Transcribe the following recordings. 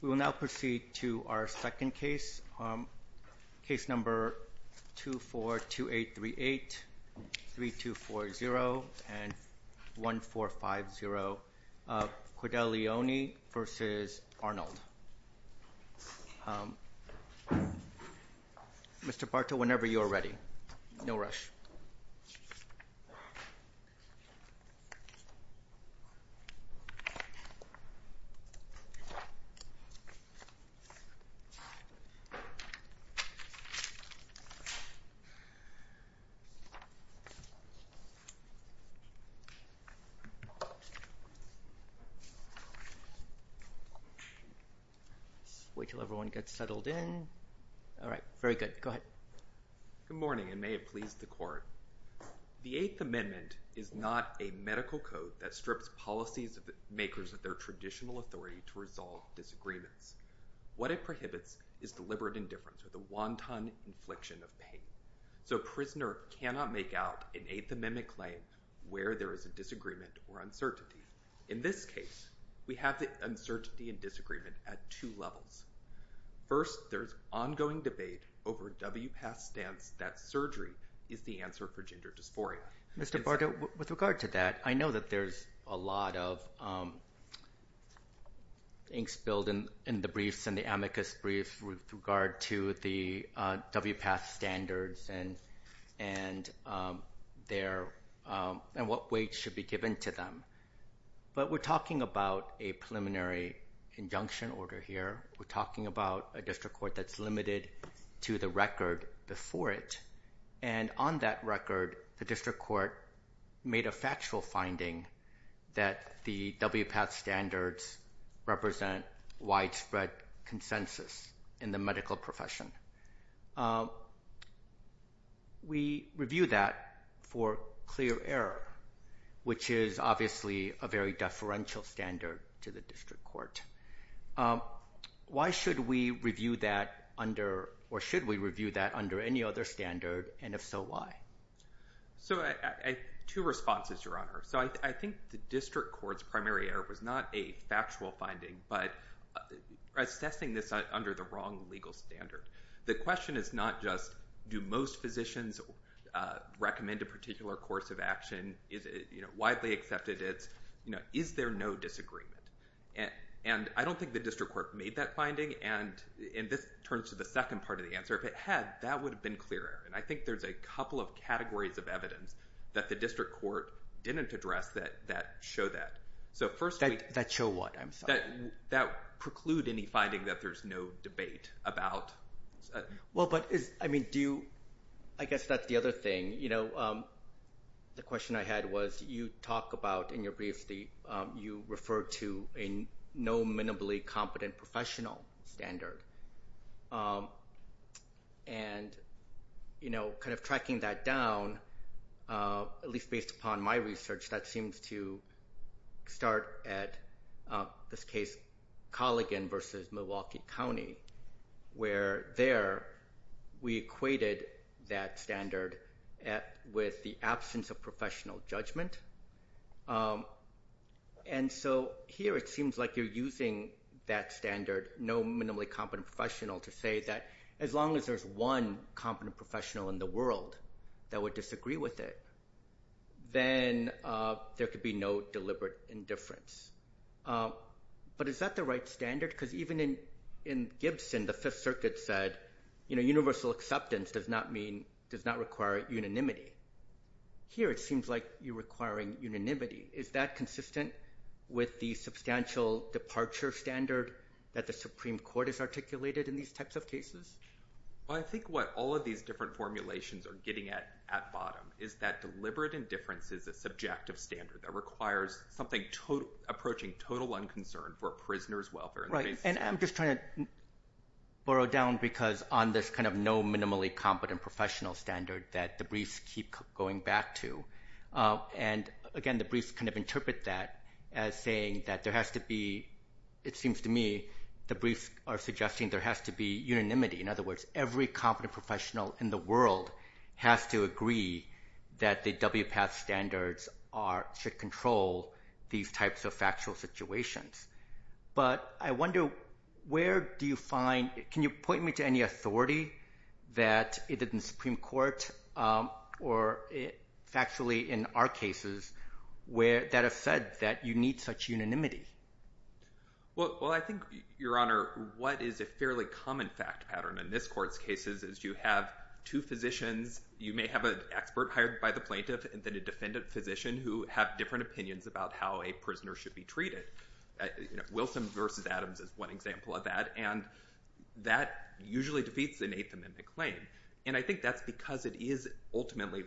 We will now proceed to our second case, case number 242838, 3240, and 1450, Cordellione v. Arnold. Mr. Barto, whenever you are ready. No rush. Wait until everyone gets settled in. All right. Very good. Go ahead. Good morning, and may it please the Court. The Eighth Amendment is not a medical code that strips policy makers of their traditional authority to resolve disagreements. What it prohibits is deliberate indifference or the wanton infliction of pain. So a prisoner cannot make out an Eighth Amendment claim where there is a disagreement or uncertainty. In this case, we have the uncertainty and disagreement at two levels. First, there is ongoing debate over WPATH's stance that surgery is the answer for gender dysphoria. Mr. Barto, with regard to that, I know that there is a lot of ink spilled in the briefs and the amicus briefs with regard to the WPATH standards and what weight should be given to them. But we're talking about a preliminary injunction order here. We're talking about a district court that's limited to the record before it. And on that record, the district court made a factual finding that the WPATH standards represent widespread consensus in the medical profession. We review that for clear error, which is obviously a very deferential standard to the district court. Why should we review that under – or should we review that under any other standard, and if so, why? So two responses, Your Honor. So I think the district court's primary error was not a factual finding, but assessing this under the wrong legal standard. The question is not just, do most physicians recommend a particular course of action, is it widely accepted? It's, is there no disagreement? And I don't think the district court made that finding, and this turns to the second part of the answer. If it had, that would have been clear error. And I think there's a couple of categories of evidence that the district court didn't address that show that. So first we – That show what? I'm sorry. That preclude any finding that there's no debate about – Well, but is – I mean, do you – I guess that's the other thing. You know, the question I had was, you talk about in your brief the – you refer to a no minimally competent professional standard. And, you know, kind of tracking that down, at least based upon my research, that seems to start at this case Colligan versus Milwaukee County, where there we equated that standard with the absence of professional judgment. And so here it seems like you're using that standard, no minimally competent professional, to say that as long as there's one competent professional in the world that would disagree with it, then there could be no deliberate indifference. But is that the right standard? Because even in Gibson, the Fifth Circuit said, you know, universal acceptance does not mean – does not require unanimity. Here it seems like you're requiring unanimity. Is that consistent with the substantial departure standard that the Supreme Court has articulated in these types of cases? Well, I think what all of these different formulations are getting at at bottom is that deliberate indifference is a subjective standard that requires something approaching total unconcern for a prisoner's welfare. Right. And I'm just trying to borrow down because on this kind of no minimally competent professional standard that the briefs keep going back to, and, again, the briefs kind of interpret that as saying that there has to be – it seems to me the briefs are suggesting there has to be unanimity. In other words, every competent professional in the world has to agree that the WPATH standards are – should control these types of factual situations. But I wonder where do you find – can you point me to any authority that either in the Supreme Court or factually in our cases that have said that you need such unanimity? Well, I think, Your Honor, what is a fairly common fact pattern in this court's cases is you have two physicians. You may have an expert hired by the plaintiff and then a defendant physician who have different opinions about how a prisoner should be treated. Wilson v. Adams is one example of that, and that usually defeats an Eighth Amendment claim. And I think that's because it is ultimately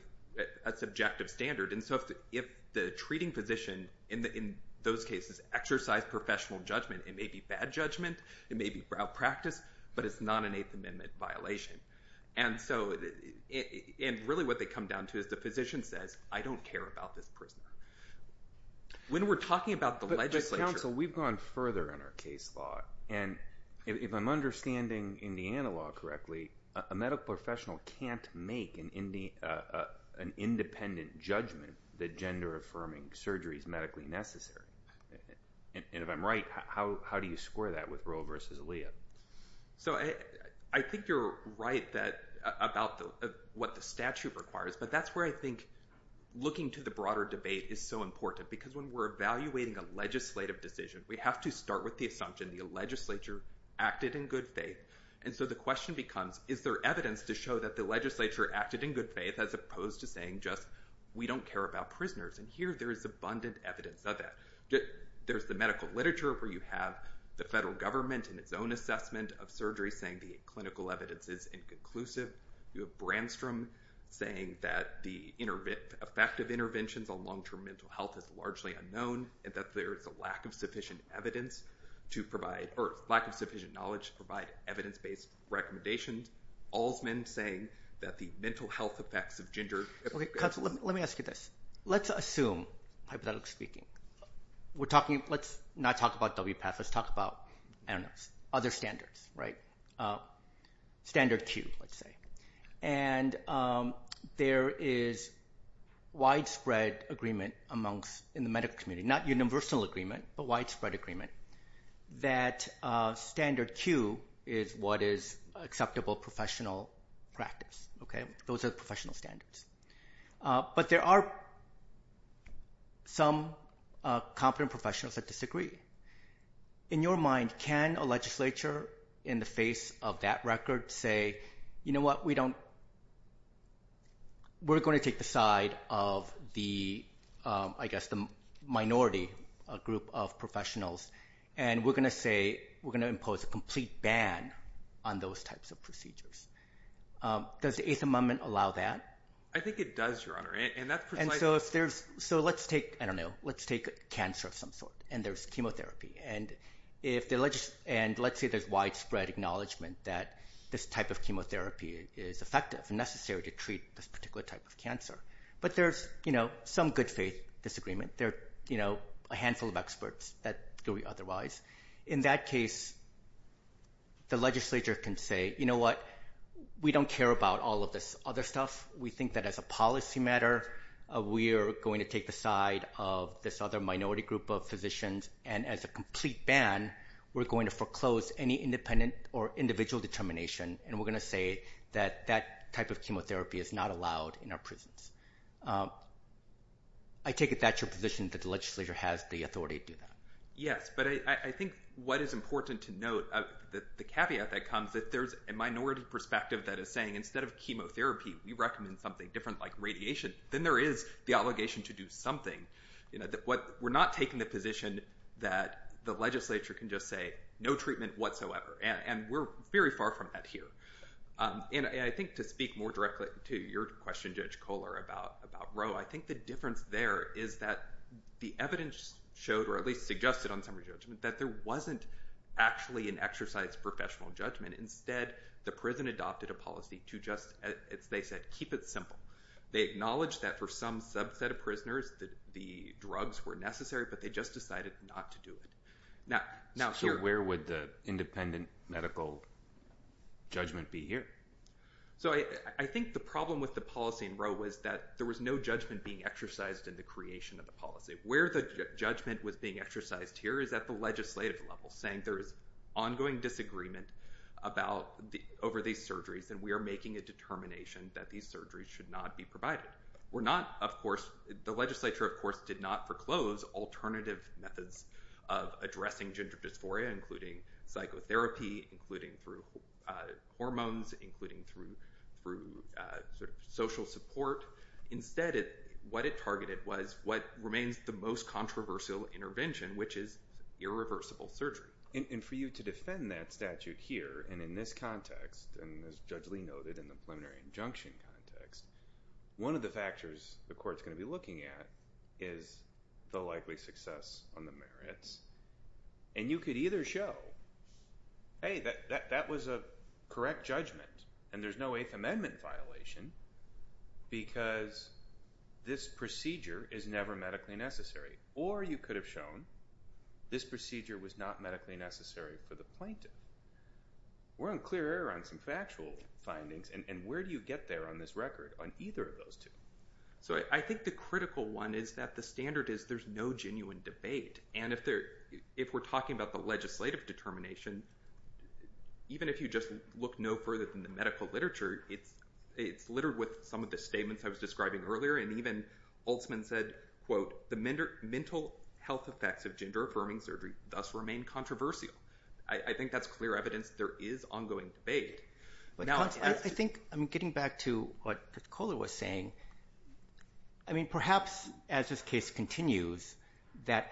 a subjective standard. And so if the treating physician in those cases exercised professional judgment, it may be bad judgment, it may be out of practice, but it's not an Eighth Amendment violation. And so – and really what they come down to is the physician says, I don't care about this prisoner. When we're talking about the legislature – But, Counsel, we've gone further in our case law, and if I'm understanding Indiana law correctly, a medical professional can't make an independent judgment that gender-affirming surgery is medically necessary. And if I'm right, how do you square that with Roe v. Aaliyah? So I think you're right about what the statute requires, but that's where I think looking to the broader debate is so important. Because when we're evaluating a legislative decision, we have to start with the assumption the legislature acted in good faith. And so the question becomes, is there evidence to show that the legislature acted in good faith as opposed to saying just we don't care about prisoners? And here there is abundant evidence of that. There's the medical literature where you have the federal government in its own assessment of surgery saying the clinical evidence is inconclusive. You have Branstrom saying that the effect of interventions on long-term mental health is largely unknown and that there is a lack of sufficient evidence to provide – or lack of sufficient knowledge to provide evidence-based recommendations. Alsman saying that the mental health effects of gender – Let me ask you this. Let's assume, hypothetically speaking, we're talking – let's not talk about WPATH. Let's talk about, I don't know, other standards, right? Standard Q, let's say. And there is widespread agreement amongst – in the medical community. Not universal agreement, but widespread agreement that standard Q is what is acceptable professional practice. Those are the professional standards. But there are some competent professionals that disagree. In your mind, can a legislature, in the face of that record, say, you know what, we don't – we're going to take the side of the – I guess the minority group of professionals. And we're going to say – we're going to impose a complete ban on those types of procedures. Does the Eighth Amendment allow that? I think it does, Your Honor. And that's precisely – And so if there's – so let's take – I don't know. Let's take cancer of some sort, and there's chemotherapy. And if the – and let's say there's widespread acknowledgment that this type of chemotherapy is effective and necessary to treat this particular type of cancer. But there's some good faith disagreement. There are a handful of experts that agree otherwise. In that case, the legislature can say, you know what, we don't care about all of this other stuff. We think that as a policy matter, we are going to take the side of this other minority group of physicians. And as a complete ban, we're going to foreclose any independent or individual determination, and we're going to say that that type of chemotherapy is not allowed in our prisons. I take it that's your position that the legislature has the authority to do that. Yes, but I think what is important to note, the caveat that comes, that there's a minority perspective that is saying instead of chemotherapy, we recommend something different like radiation. Then there is the obligation to do something. We're not taking the position that the legislature can just say no treatment whatsoever, and we're very far from that here. And I think to speak more directly to your question, Judge Kohler, about Roe, I think the difference there is that the evidence showed, or at least suggested on summary judgment, that there wasn't actually an exercise professional judgment. Instead, the prison adopted a policy to just, as they said, keep it simple. They acknowledged that for some subset of prisoners, the drugs were necessary, but they just decided not to do it. So where would the independent medical judgment be here? So I think the problem with the policy in Roe was that there was no judgment being exercised in the creation of the policy. Where the judgment was being exercised here is at the legislative level, saying there is ongoing disagreement over these surgeries, and we are making a determination that these surgeries should not be provided. The legislature, of course, did not foreclose alternative methods of addressing gender dysphoria, including psychotherapy, including through hormones, including through social support. Instead, what it targeted was what remains the most controversial intervention, which is irreversible surgery. And for you to defend that statute here, and in this context, and as Judge Lee noted in the preliminary injunction context, one of the factors the court's going to be looking at is the likely success on the merits. And you could either show, hey, that was a correct judgment, and there's no Eighth Amendment violation, because this procedure is never medically necessary. Or you could have shown this procedure was not medically necessary for the plaintiff. We're on clear air on some factual findings, and where do you get there on this record on either of those two? So I think the critical one is that the standard is there's no genuine debate. And if we're talking about the legislative determination, even if you just look no further than the medical literature, it's littered with some of the statements I was describing earlier. And even Oltzman said, quote, the mental health effects of gender-affirming surgery thus remain controversial. I think that's clear evidence there is ongoing debate. I think I'm getting back to what Ms. Kohler was saying. I mean, perhaps as this case continues, that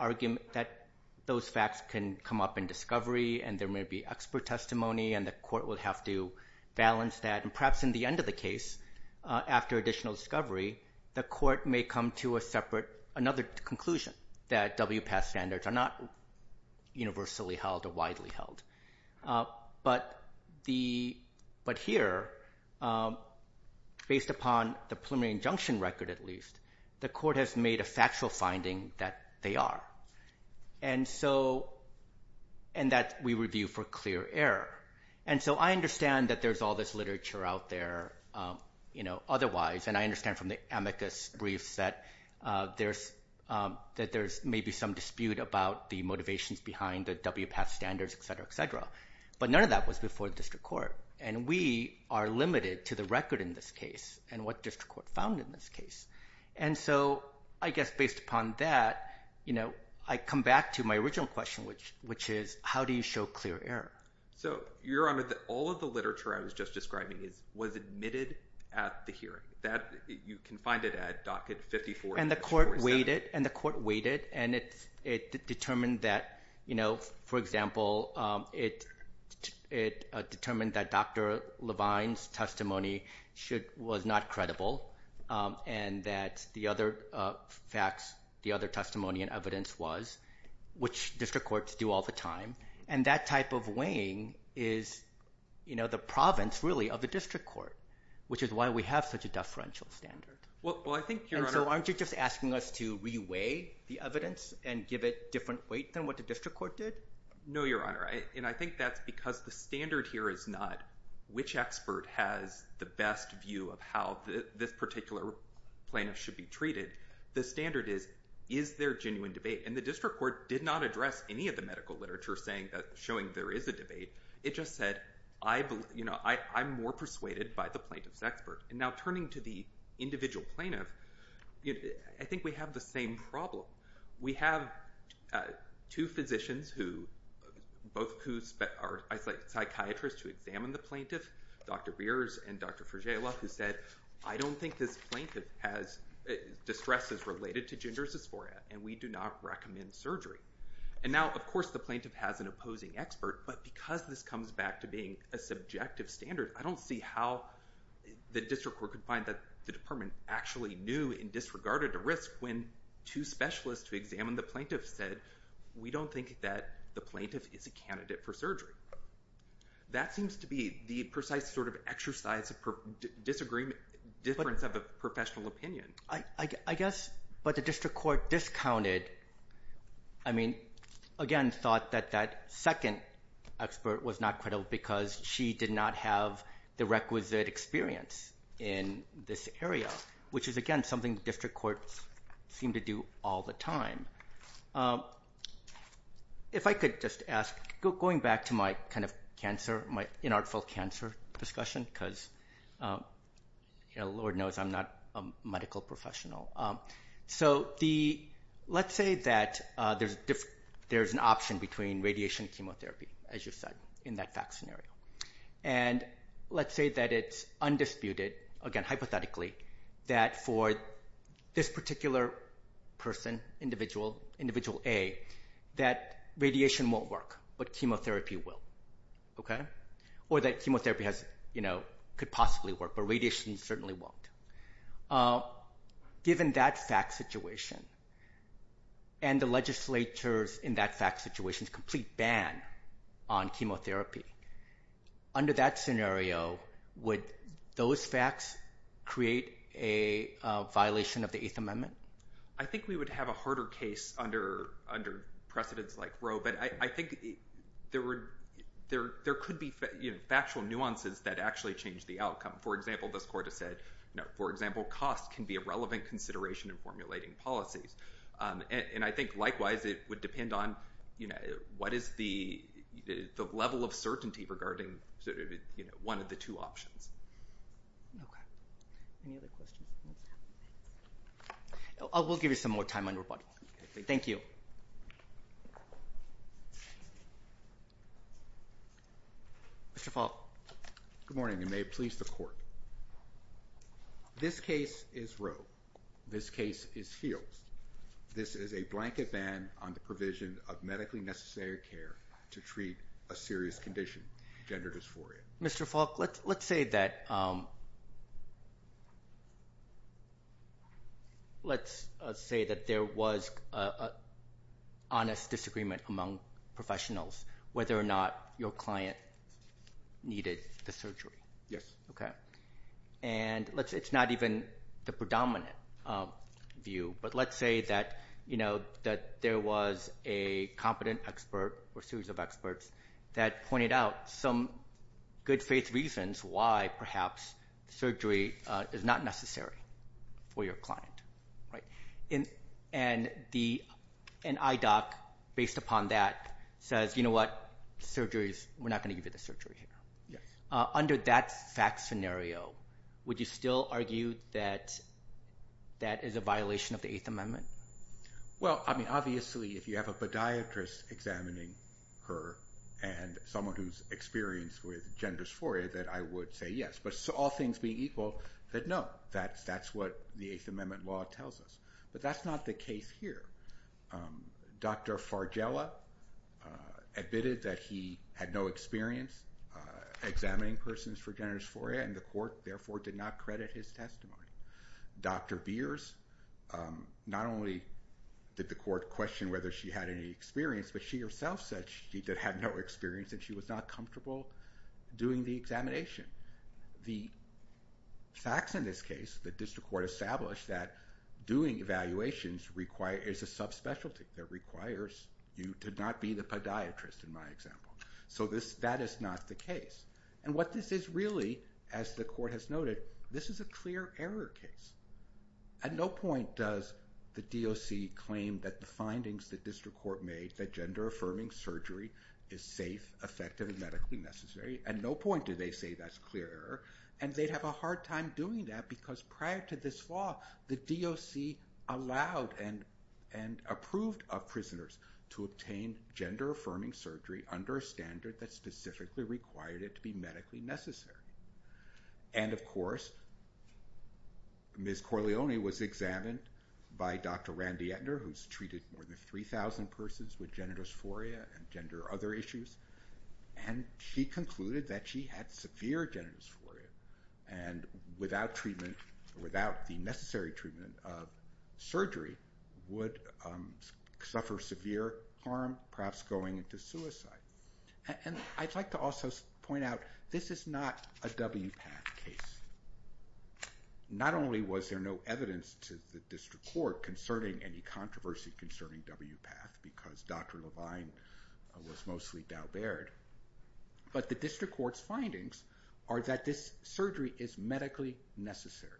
those facts can come up in discovery, and there may be expert testimony, and the court will have to balance that. And perhaps in the end of the case, after additional discovery, the court may come to a separate, another conclusion that WPAT standards are not universally held or widely held. But here, based upon the preliminary injunction record at least, the court has made a factual finding that they are, and that we review for clear error. And so I understand that there's all this literature out there otherwise, and I understand from the amicus briefs that there's maybe some dispute about the motivations behind the WPAT standards, et cetera, et cetera, but none of that was before the district court. And we are limited to the record in this case and what district court found in this case. And so I guess based upon that, I come back to my original question, which is how do you show clear error? So, Your Honor, all of the literature I was just describing was admitted at the hearing. You can find it at docket 54- And the court weighed it, and the court weighed it, and it determined that, you know, for example, it determined that Dr. Levine's testimony was not credible and that the other facts, the other testimony and evidence was, which district courts do all the time. And that type of weighing is, you know, the province really of the district court, which is why we have such a deferential standard. Well, I think, Your Honor- And so aren't you just asking us to re-weigh the evidence and give it different weight than what the district court did? No, Your Honor, and I think that's because the standard here is not which expert has the best view of how this particular plaintiff should be treated. The standard is, is there genuine debate? And the district court did not address any of the medical literature showing there is a debate. It just said, you know, I'm more persuaded by the plaintiff's expert. And now turning to the individual plaintiff, I think we have the same problem. We have two physicians who both who are isolated psychiatrists who examine the plaintiff, Dr. Beers and Dr. Frusciola, who said, I don't think this plaintiff has distresses related to gender dysphoria, and we do not recommend surgery. And now, of course, the plaintiff has an opposing expert, but because this comes back to being a subjective standard, I don't see how the district court could find that the department actually knew and disregarded the risk when two specialists to examine the plaintiff said, we don't think that the plaintiff is a candidate for surgery. That seems to be the precise sort of exercise of disagreement, difference of a professional opinion. I guess, but the district court discounted, I mean, again, thought that that second expert was not credible because she did not have the requisite experience in this area, which is, again, something district courts seem to do all the time. If I could just ask, going back to my kind of cancer, my inarticulate cancer discussion, because Lord knows I'm not a medical professional. So let's say that there's an option between radiation and chemotherapy, as you said, in that fact scenario. And let's say that it's undisputed, again, hypothetically, that for this particular person, individual A, that radiation won't work, but chemotherapy will, or that chemotherapy could possibly work, but radiation certainly won't. Given that fact situation and the legislature's, in that fact situation, complete ban on chemotherapy, under that scenario, would those facts create a violation of the Eighth Amendment? I think we would have a harder case under precedents like Roe, but I think there could be factual nuances that actually change the outcome. For example, this court has said, for example, cost can be a relevant consideration in formulating policies. And I think, likewise, it would depend on what is the level of certainty regarding one of the two options. Any other questions? We'll give you some more time on your part. Thank you. Mr. Falk. Good morning, and may it please the Court. This case is Roe. This case is Healds. This is a blanket ban on the provision of medically necessary care to treat a serious condition, gender dysphoria. Mr. Falk, let's say that there was honest disagreement among professionals whether or not your client needed the surgery. Yes. Okay. And it's not even the predominant view, but let's say that there was a competent expert or a series of experts that pointed out some good faith reasons why perhaps surgery is not necessary for your client. And an IDOC, based upon that, says, you know what, surgeries, we're not going to give you the surgery. Yes. Even with that fact scenario, would you still argue that that is a violation of the Eighth Amendment? Well, I mean, obviously, if you have a podiatrist examining her and someone who's experienced with gender dysphoria, that I would say yes. But all things being equal, that no, that's what the Eighth Amendment law tells us. But that's not the case here. Dr. Fargella admitted that he had no experience examining persons for gender dysphoria, and the court, therefore, did not credit his testimony. Dr. Beers, not only did the court question whether she had any experience, but she herself said she had no experience and she was not comfortable doing the examination. The facts in this case, the district court established that doing evaluations is a subspecialty that requires you to not be the podiatrist, in my example. So that is not the case. And what this is really, as the court has noted, this is a clear error case. At no point does the DOC claim that the findings the district court made that gender-affirming surgery is safe, effective, and medically necessary. At no point do they say that's a clear error. And they'd have a hard time doing that because prior to this law, the DOC allowed and approved of prisoners to obtain gender-affirming surgery under a standard that specifically required it to be medically necessary. And, of course, Ms. Corleone was examined by Dr. Randy Etner, who's treated more than 3,000 persons with gender dysphoria and gender other issues, and she concluded that she had severe gender dysphoria, and without the necessary treatment of surgery, would suffer severe harm, perhaps going into suicide. And I'd like to also point out, this is not a WPATH case. Not only was there no evidence to the district court concerning any controversy concerning WPATH because Dr. Levine was mostly doubted, but the district court's findings are that this surgery is medically necessary.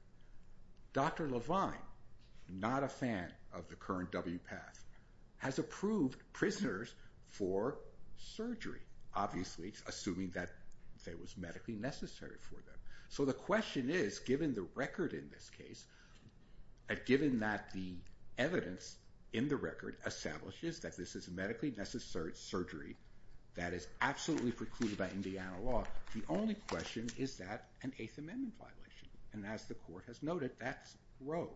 Dr. Levine, not a fan of the current WPATH, has approved prisoners for surgery, obviously, assuming that it was medically necessary for them. So the question is, given the record in this case, given that the evidence in the record establishes that this is medically necessary surgery that is absolutely precluded by Indiana law, the only question is that an Eighth Amendment violation, and as the court has noted, that's Roe,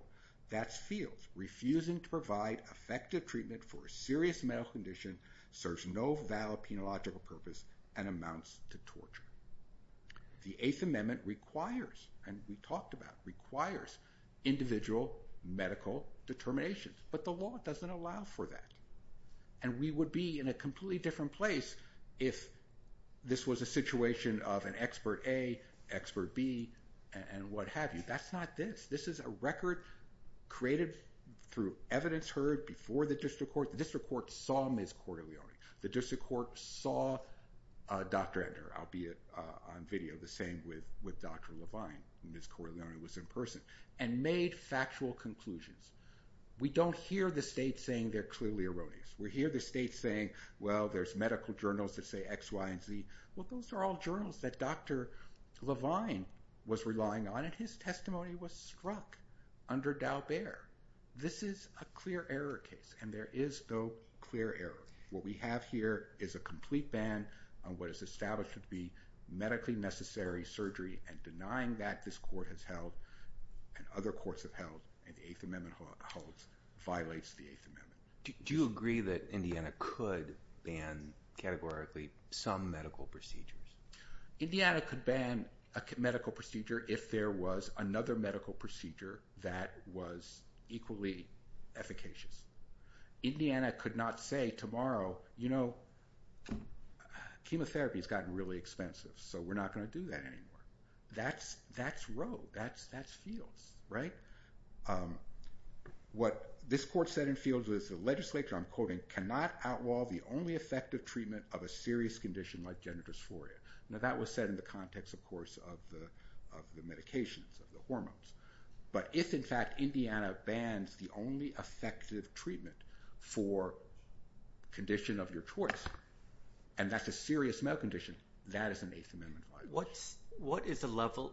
that's Fields, refusing to provide effective treatment for a serious mental condition serves no valid penological purpose and amounts to torture. The Eighth Amendment requires, and we talked about, requires individual medical determination, but the law doesn't allow for that. And we would be in a completely different place if this was a situation of an expert A, expert B, and what have you. That's not this. This is a record created through evidence heard before the district court. The district court saw Ms. Coriglione. The district court saw Dr. Edner, albeit on video, the same with Dr. Levine. Ms. Coriglione was in person, and made factual conclusions. We don't hear the state saying they're clearly erroneous. We hear the state saying, well, there's medical journals that say X, Y, and Z. Well, those are all journals that Dr. Levine was relying on, and his testimony was struck under Daubert. This is a clear error case, and there is, though, clear error. What we have here is a complete ban on what is established to be medically necessary surgery, and denying that this court has held, and other courts have held, and the Eighth Amendment holds, violates the Eighth Amendment. Do you agree that Indiana could ban, categorically, some medical procedures? Indiana could ban a medical procedure if there was another medical procedure that was equally efficacious. Indiana could not say, tomorrow, you know, chemotherapy has gotten really expensive, so we're not going to do that anymore. That's rogue. That's fields, right? What this court said in fields was the legislature, I'm quoting, cannot outlaw the only effective treatment of a serious condition like gender dysphoria. Now, that was said in the context, of course, of the medications, of the hormones. But if, in fact, Indiana bans the only effective treatment for condition of your choice, and that's a serious medical condition, that is an Eighth Amendment violation.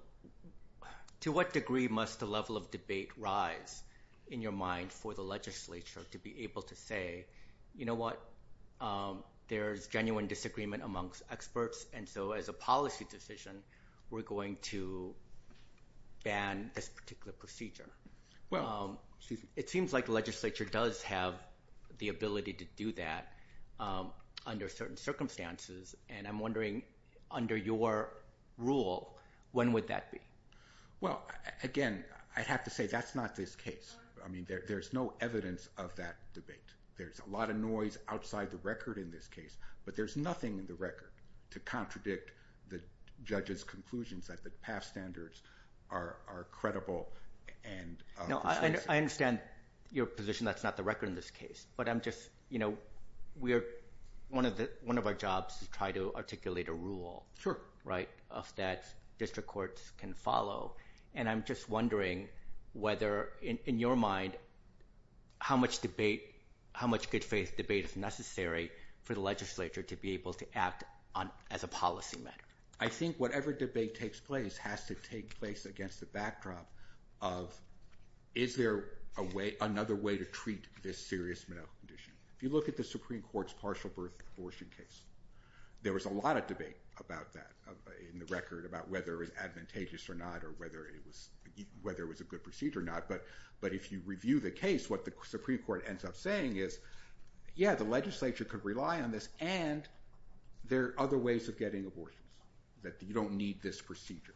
To what degree must the level of debate rise in your mind for the legislature to be able to say, you know what, there's genuine disagreement amongst experts, and so as a policy decision, we're going to ban this particular procedure? It seems like the legislature does have the ability to do that under certain circumstances, and I'm wondering, under your rule, when would that be? Well, again, I'd have to say that's not this case. I mean, there's no evidence of that debate. There's a lot of noise outside the record in this case, but there's nothing in the record to contradict the judge's conclusions that the PATH standards are credible and persuasive. I understand your position that's not the record in this case, but I'm just, you know, one of our jobs is to try to articulate a rule, right, of that district courts can follow. And I'm just wondering whether, in your mind, how much debate, how much good faith debate is necessary for the legislature to be able to act as a policy matter? I think whatever debate takes place has to take place against the backdrop of, is there another way to treat this serious medical condition? If you look at the Supreme Court's partial birth abortion case, there was a lot of debate about that in the record, about whether it was advantageous or not, or whether it was a good procedure or not. But if you review the case, what the Supreme Court ends up saying is, yeah, the legislature could rely on this, and there are other ways of getting abortions, that you don't need this procedure.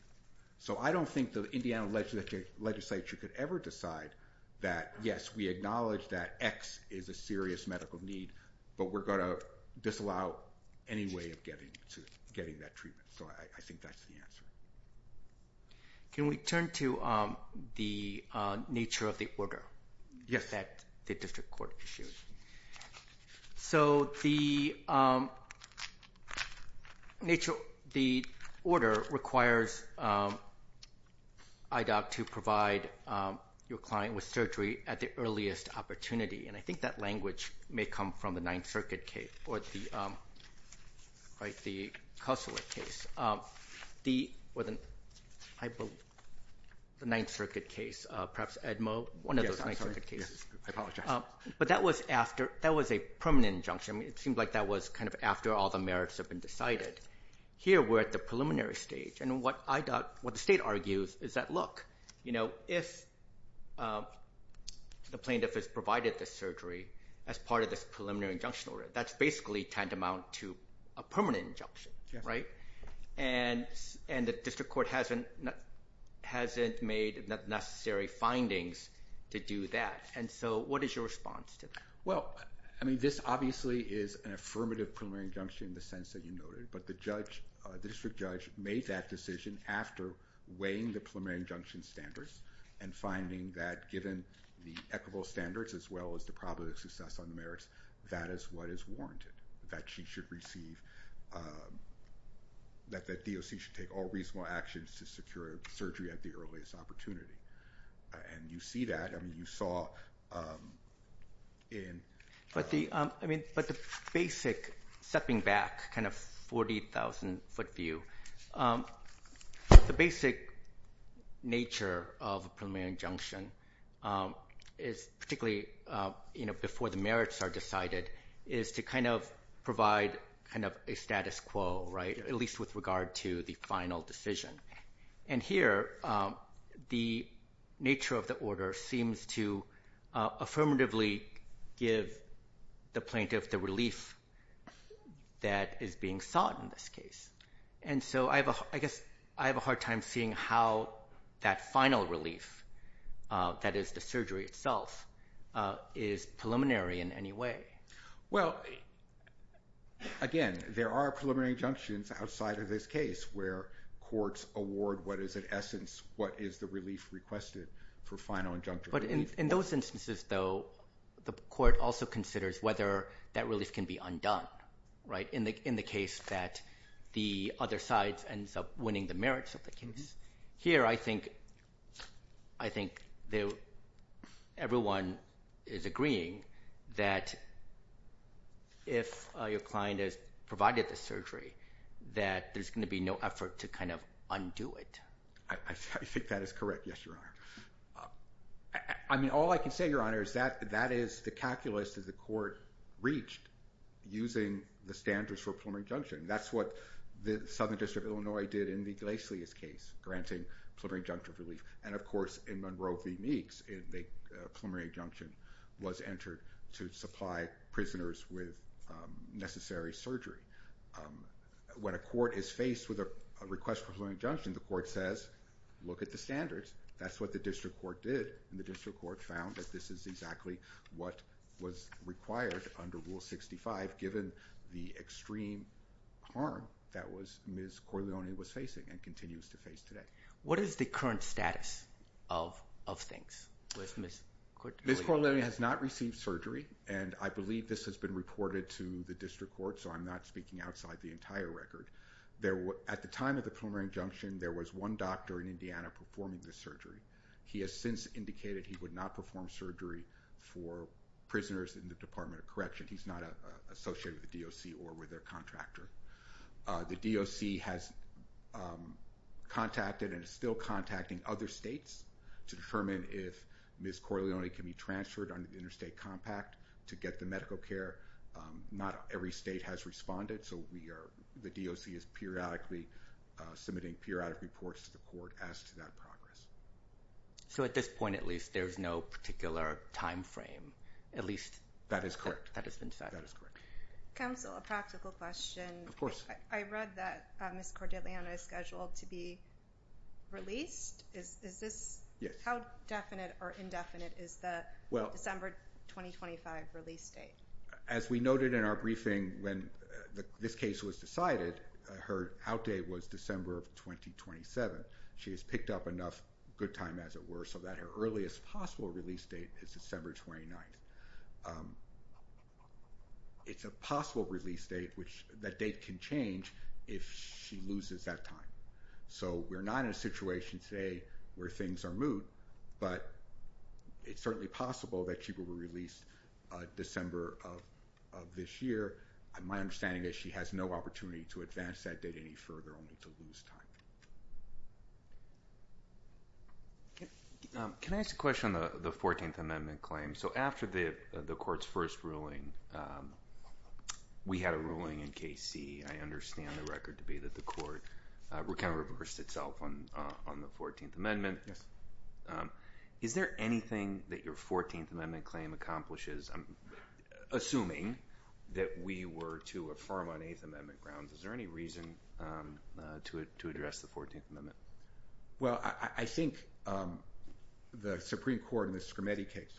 So I don't think the Indiana legislature could ever decide that, yes, we acknowledge that X is a serious medical need, but we're going to disallow any way of getting that treatment. So I think that's the answer. Can we turn to the nature of the order that the district court issued? So the order requires IDOC to provide your client with surgery at the earliest opportunity. And I think that language may come from the Ninth Circuit case, or the Cussula case, or the Ninth Circuit case, perhaps Edmo, one of those Ninth Circuit cases. But that was a permanent injunction. It seems like that was after all the merits have been decided. Here, we're at the preliminary stage. And what the state argues is that, look, if the plaintiff has provided the surgery as part of this preliminary injunction order, that's basically tantamount to a permanent injunction. And the district court hasn't made the necessary findings to do that. And so what is your response to that? Well, I mean, this obviously is an affirmative preliminary injunction in the sense that you noted. But the district judge made that decision after weighing the preliminary injunction standards and finding that, given the equitable standards as well as the probability of success on the merits, that is what is warranted, that she should receive, that the DOC should take all reasonable actions to secure surgery at the earliest opportunity. And you see that. But the basic stepping back, kind of 40,000 foot view, the basic nature of a preliminary injunction is, particularly before the merits are decided, is to kind of provide kind of a status quo, right, at least with regard to the final decision. And here, the nature of the order seems to affirmatively give the plaintiff the relief that is being sought in this case. And so I guess I have a hard time seeing how that final relief, that is the surgery itself, is preliminary in any way. Well, again, there are preliminary injunctions outside of this case where courts award what is, in essence, what is the relief requested for final injunction relief. But in those instances, though, the court also considers whether that relief can be undone, right, in the case that the other side ends up winning the merits of the case. Here, I think everyone is agreeing that if your client has provided the surgery, that there's going to be no effort to kind of undo it. I think that is correct, yes, Your Honor. I mean, all I can say, Your Honor, is that that is the calculus that the court reached using the standards for a preliminary injunction. That's what the Southern District of Illinois did in the Glacelius case, granting preliminary injunctive relief. And, of course, in Monroe v. Meeks, a preliminary injunction was entered to supply prisoners with necessary surgery. When a court is faced with a request for a preliminary injunction, the court says, look at the standards. That's what the district court did. And the district court found that this is exactly what was required under Rule 65, given the extreme harm that Ms. Corleone was facing and continues to face today. What is the current status of things with Ms. Corleone? Ms. Corleone has not received surgery, and I believe this has been reported to the district court, so I'm not speaking outside the entire record. At the time of the preliminary injunction, there was one doctor in Indiana performing this surgery. He has since indicated he would not perform surgery for prisoners in the Department of Correction. He's not associated with the DOC or with their contractor. The DOC has contacted and is still contacting other states to determine if Ms. Corleone can be transferred under the interstate compact to get the medical care. Not every state has responded, so the DOC is periodically submitting periodic reports to the court as to that progress. So at this point, at least, there's no particular time frame. At least, that has been said. That is correct. Counsel, a practical question. I read that Ms. Corleone is scheduled to be released. Is this? Yes. How definite or indefinite is the December 2025 release date? As we noted in our briefing, when this case was decided, her out date was December of 2027. She has picked up enough good time, as it were, so that her earliest possible release date is December 29th. It's a possible release date. That date can change if she loses that time. So we're not in a situation today where things are moot, but it's certainly possible that she will be released December of this year. My understanding is she has no opportunity to advance that date any further, only to lose time. Can I ask a question on the 14th Amendment claim? So after the Court's first ruling, we had a ruling in Case C. I understand the record to be that the Court reversed itself on the 14th Amendment. Yes. Is there anything that your 14th Amendment claim accomplishes? Assuming that we were to affirm on Eighth Amendment grounds, is there any reason to address the 14th Amendment? Well, I think the Supreme Court in the Scrimeti case,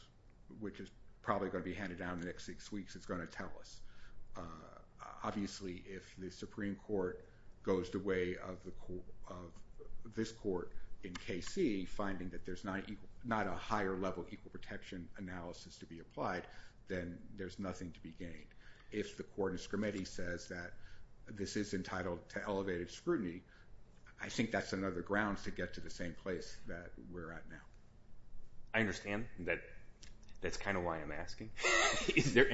which is probably going to be handed down in the next six weeks, is going to tell us. Obviously, if the Supreme Court goes the way of this Court in Case C, finding that there's not a higher level equal protection analysis to be applied, then there's nothing to be gained. If the Court in Scrimeti says that this is entitled to elevated scrutiny, I think that's another ground to get to the same place that we're at now. I understand. That's kind of why I'm asking. Is there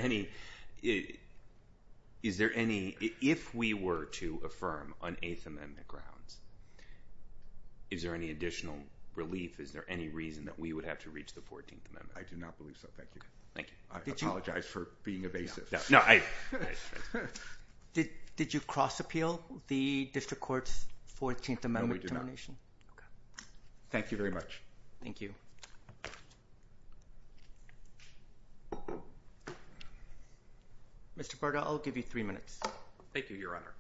any—if we were to affirm on Eighth Amendment grounds, is there any additional relief? Is there any reason that we would have to reach the 14th Amendment? I do not believe so. Thank you. Thank you. I apologize for being evasive. No, I— Did you cross-appeal the district court's 14th Amendment determination? Okay. Thank you very much. Thank you. Mr. Berta, I'll give you three minutes. Thank you, Your Honor.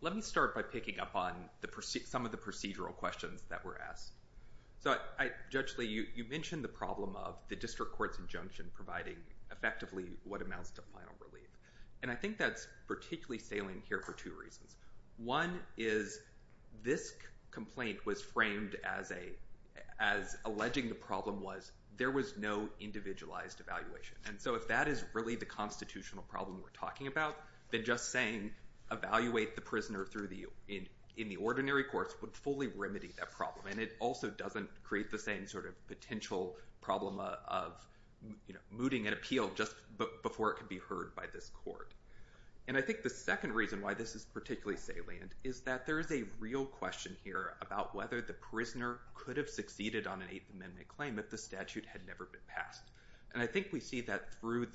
Let me start by picking up on some of the procedural questions that were asked. So, Judge Lee, you mentioned the problem of the district court's injunction providing effectively what amounts to final relief. And I think that's particularly salient here for two reasons. One is this complaint was framed as alleging the problem was there was no individualized evaluation. And so if that is really the constitutional problem we're talking about, then just saying evaluate the prisoner in the ordinary courts would fully remedy that problem. And it also doesn't create the same sort of potential problem of, you know, mooting an appeal just before it can be heard by this court. And I think the second reason why this is particularly salient is that there is a real question here about whether the prisoner could have succeeded on an Eighth Amendment claim if the statute had never been passed. And I think we see that through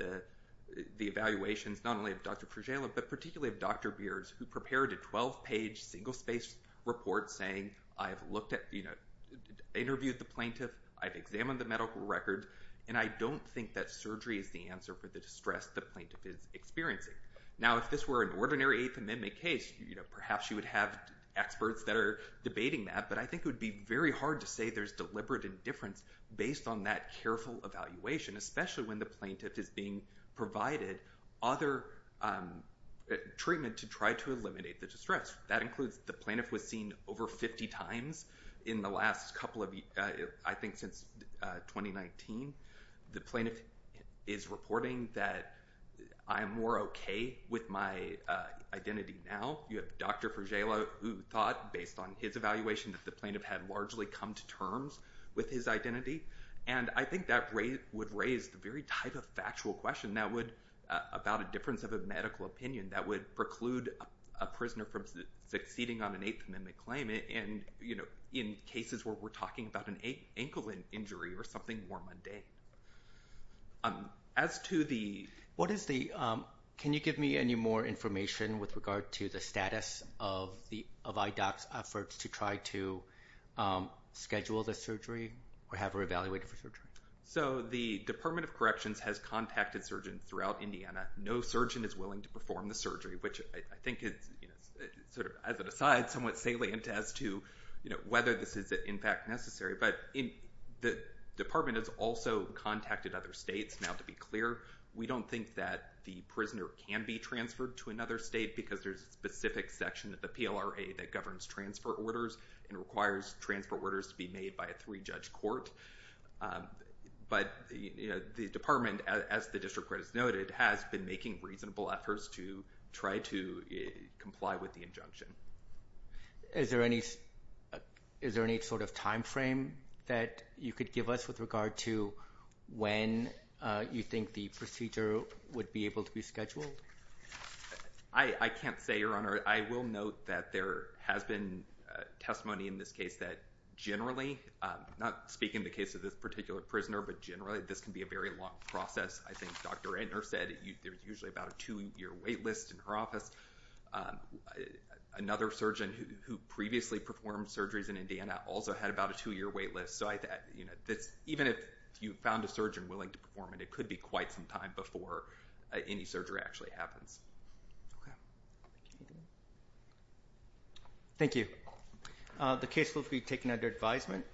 the evaluations, not only of Dr. Prusaila, but particularly of Dr. Beers, who prepared a 12-page, single-spaced report saying, I've looked at, you know, interviewed the plaintiff, I've examined the medical record, and I don't think that surgery is the answer for the distress the plaintiff is experiencing. Now, if this were an ordinary Eighth Amendment case, you know, perhaps you would have experts that are debating that, but I think it would be very hard to say there's deliberate indifference based on that careful evaluation, especially when the plaintiff is being provided other treatment to try to eliminate the distress. That includes the plaintiff was seen over 50 times in the last couple of, I think, since 2019. The plaintiff is reporting that I am more okay with my identity now. You have Dr. Prusaila who thought, based on his evaluation, that the plaintiff had largely come to terms with his identity. And I think that would raise the very type of factual question that would, about a difference of a medical opinion, that would preclude a prisoner from succeeding on an Eighth Amendment claim in, you know, in cases where we're talking about an ankle injury or something more mundane. Can you give me any more information with regard to the status of IDOC's efforts to try to schedule the surgery or have her evaluated for surgery? So the Department of Corrections has contacted surgeons throughout Indiana. No surgeon is willing to perform the surgery, which I think is, as an aside, somewhat salient as to whether this is, in fact, necessary. But the department has also contacted other states. Now, to be clear, we don't think that the prisoner can be transferred to another state because there's a specific section of the PLRA that governs transfer orders and requires transfer orders to be made by a three-judge court. But the department, as the district court has noted, has been making reasonable efforts to try to comply with the injunction. Is there any sort of time frame that you could give us with regard to when you think the procedure would be able to be scheduled? I can't say, Your Honor. I will note that there has been testimony in this case that generally, not speaking the case of this particular prisoner, but generally this can be a very long process. I think Dr. Edner said there's usually about a two-year wait list in her office. Another surgeon who previously performed surgeries in Indiana also had about a two-year wait list. So even if you found a surgeon willing to perform it, it could be quite some time before any surgery actually happens. Thank you. The case will be taken under advisement.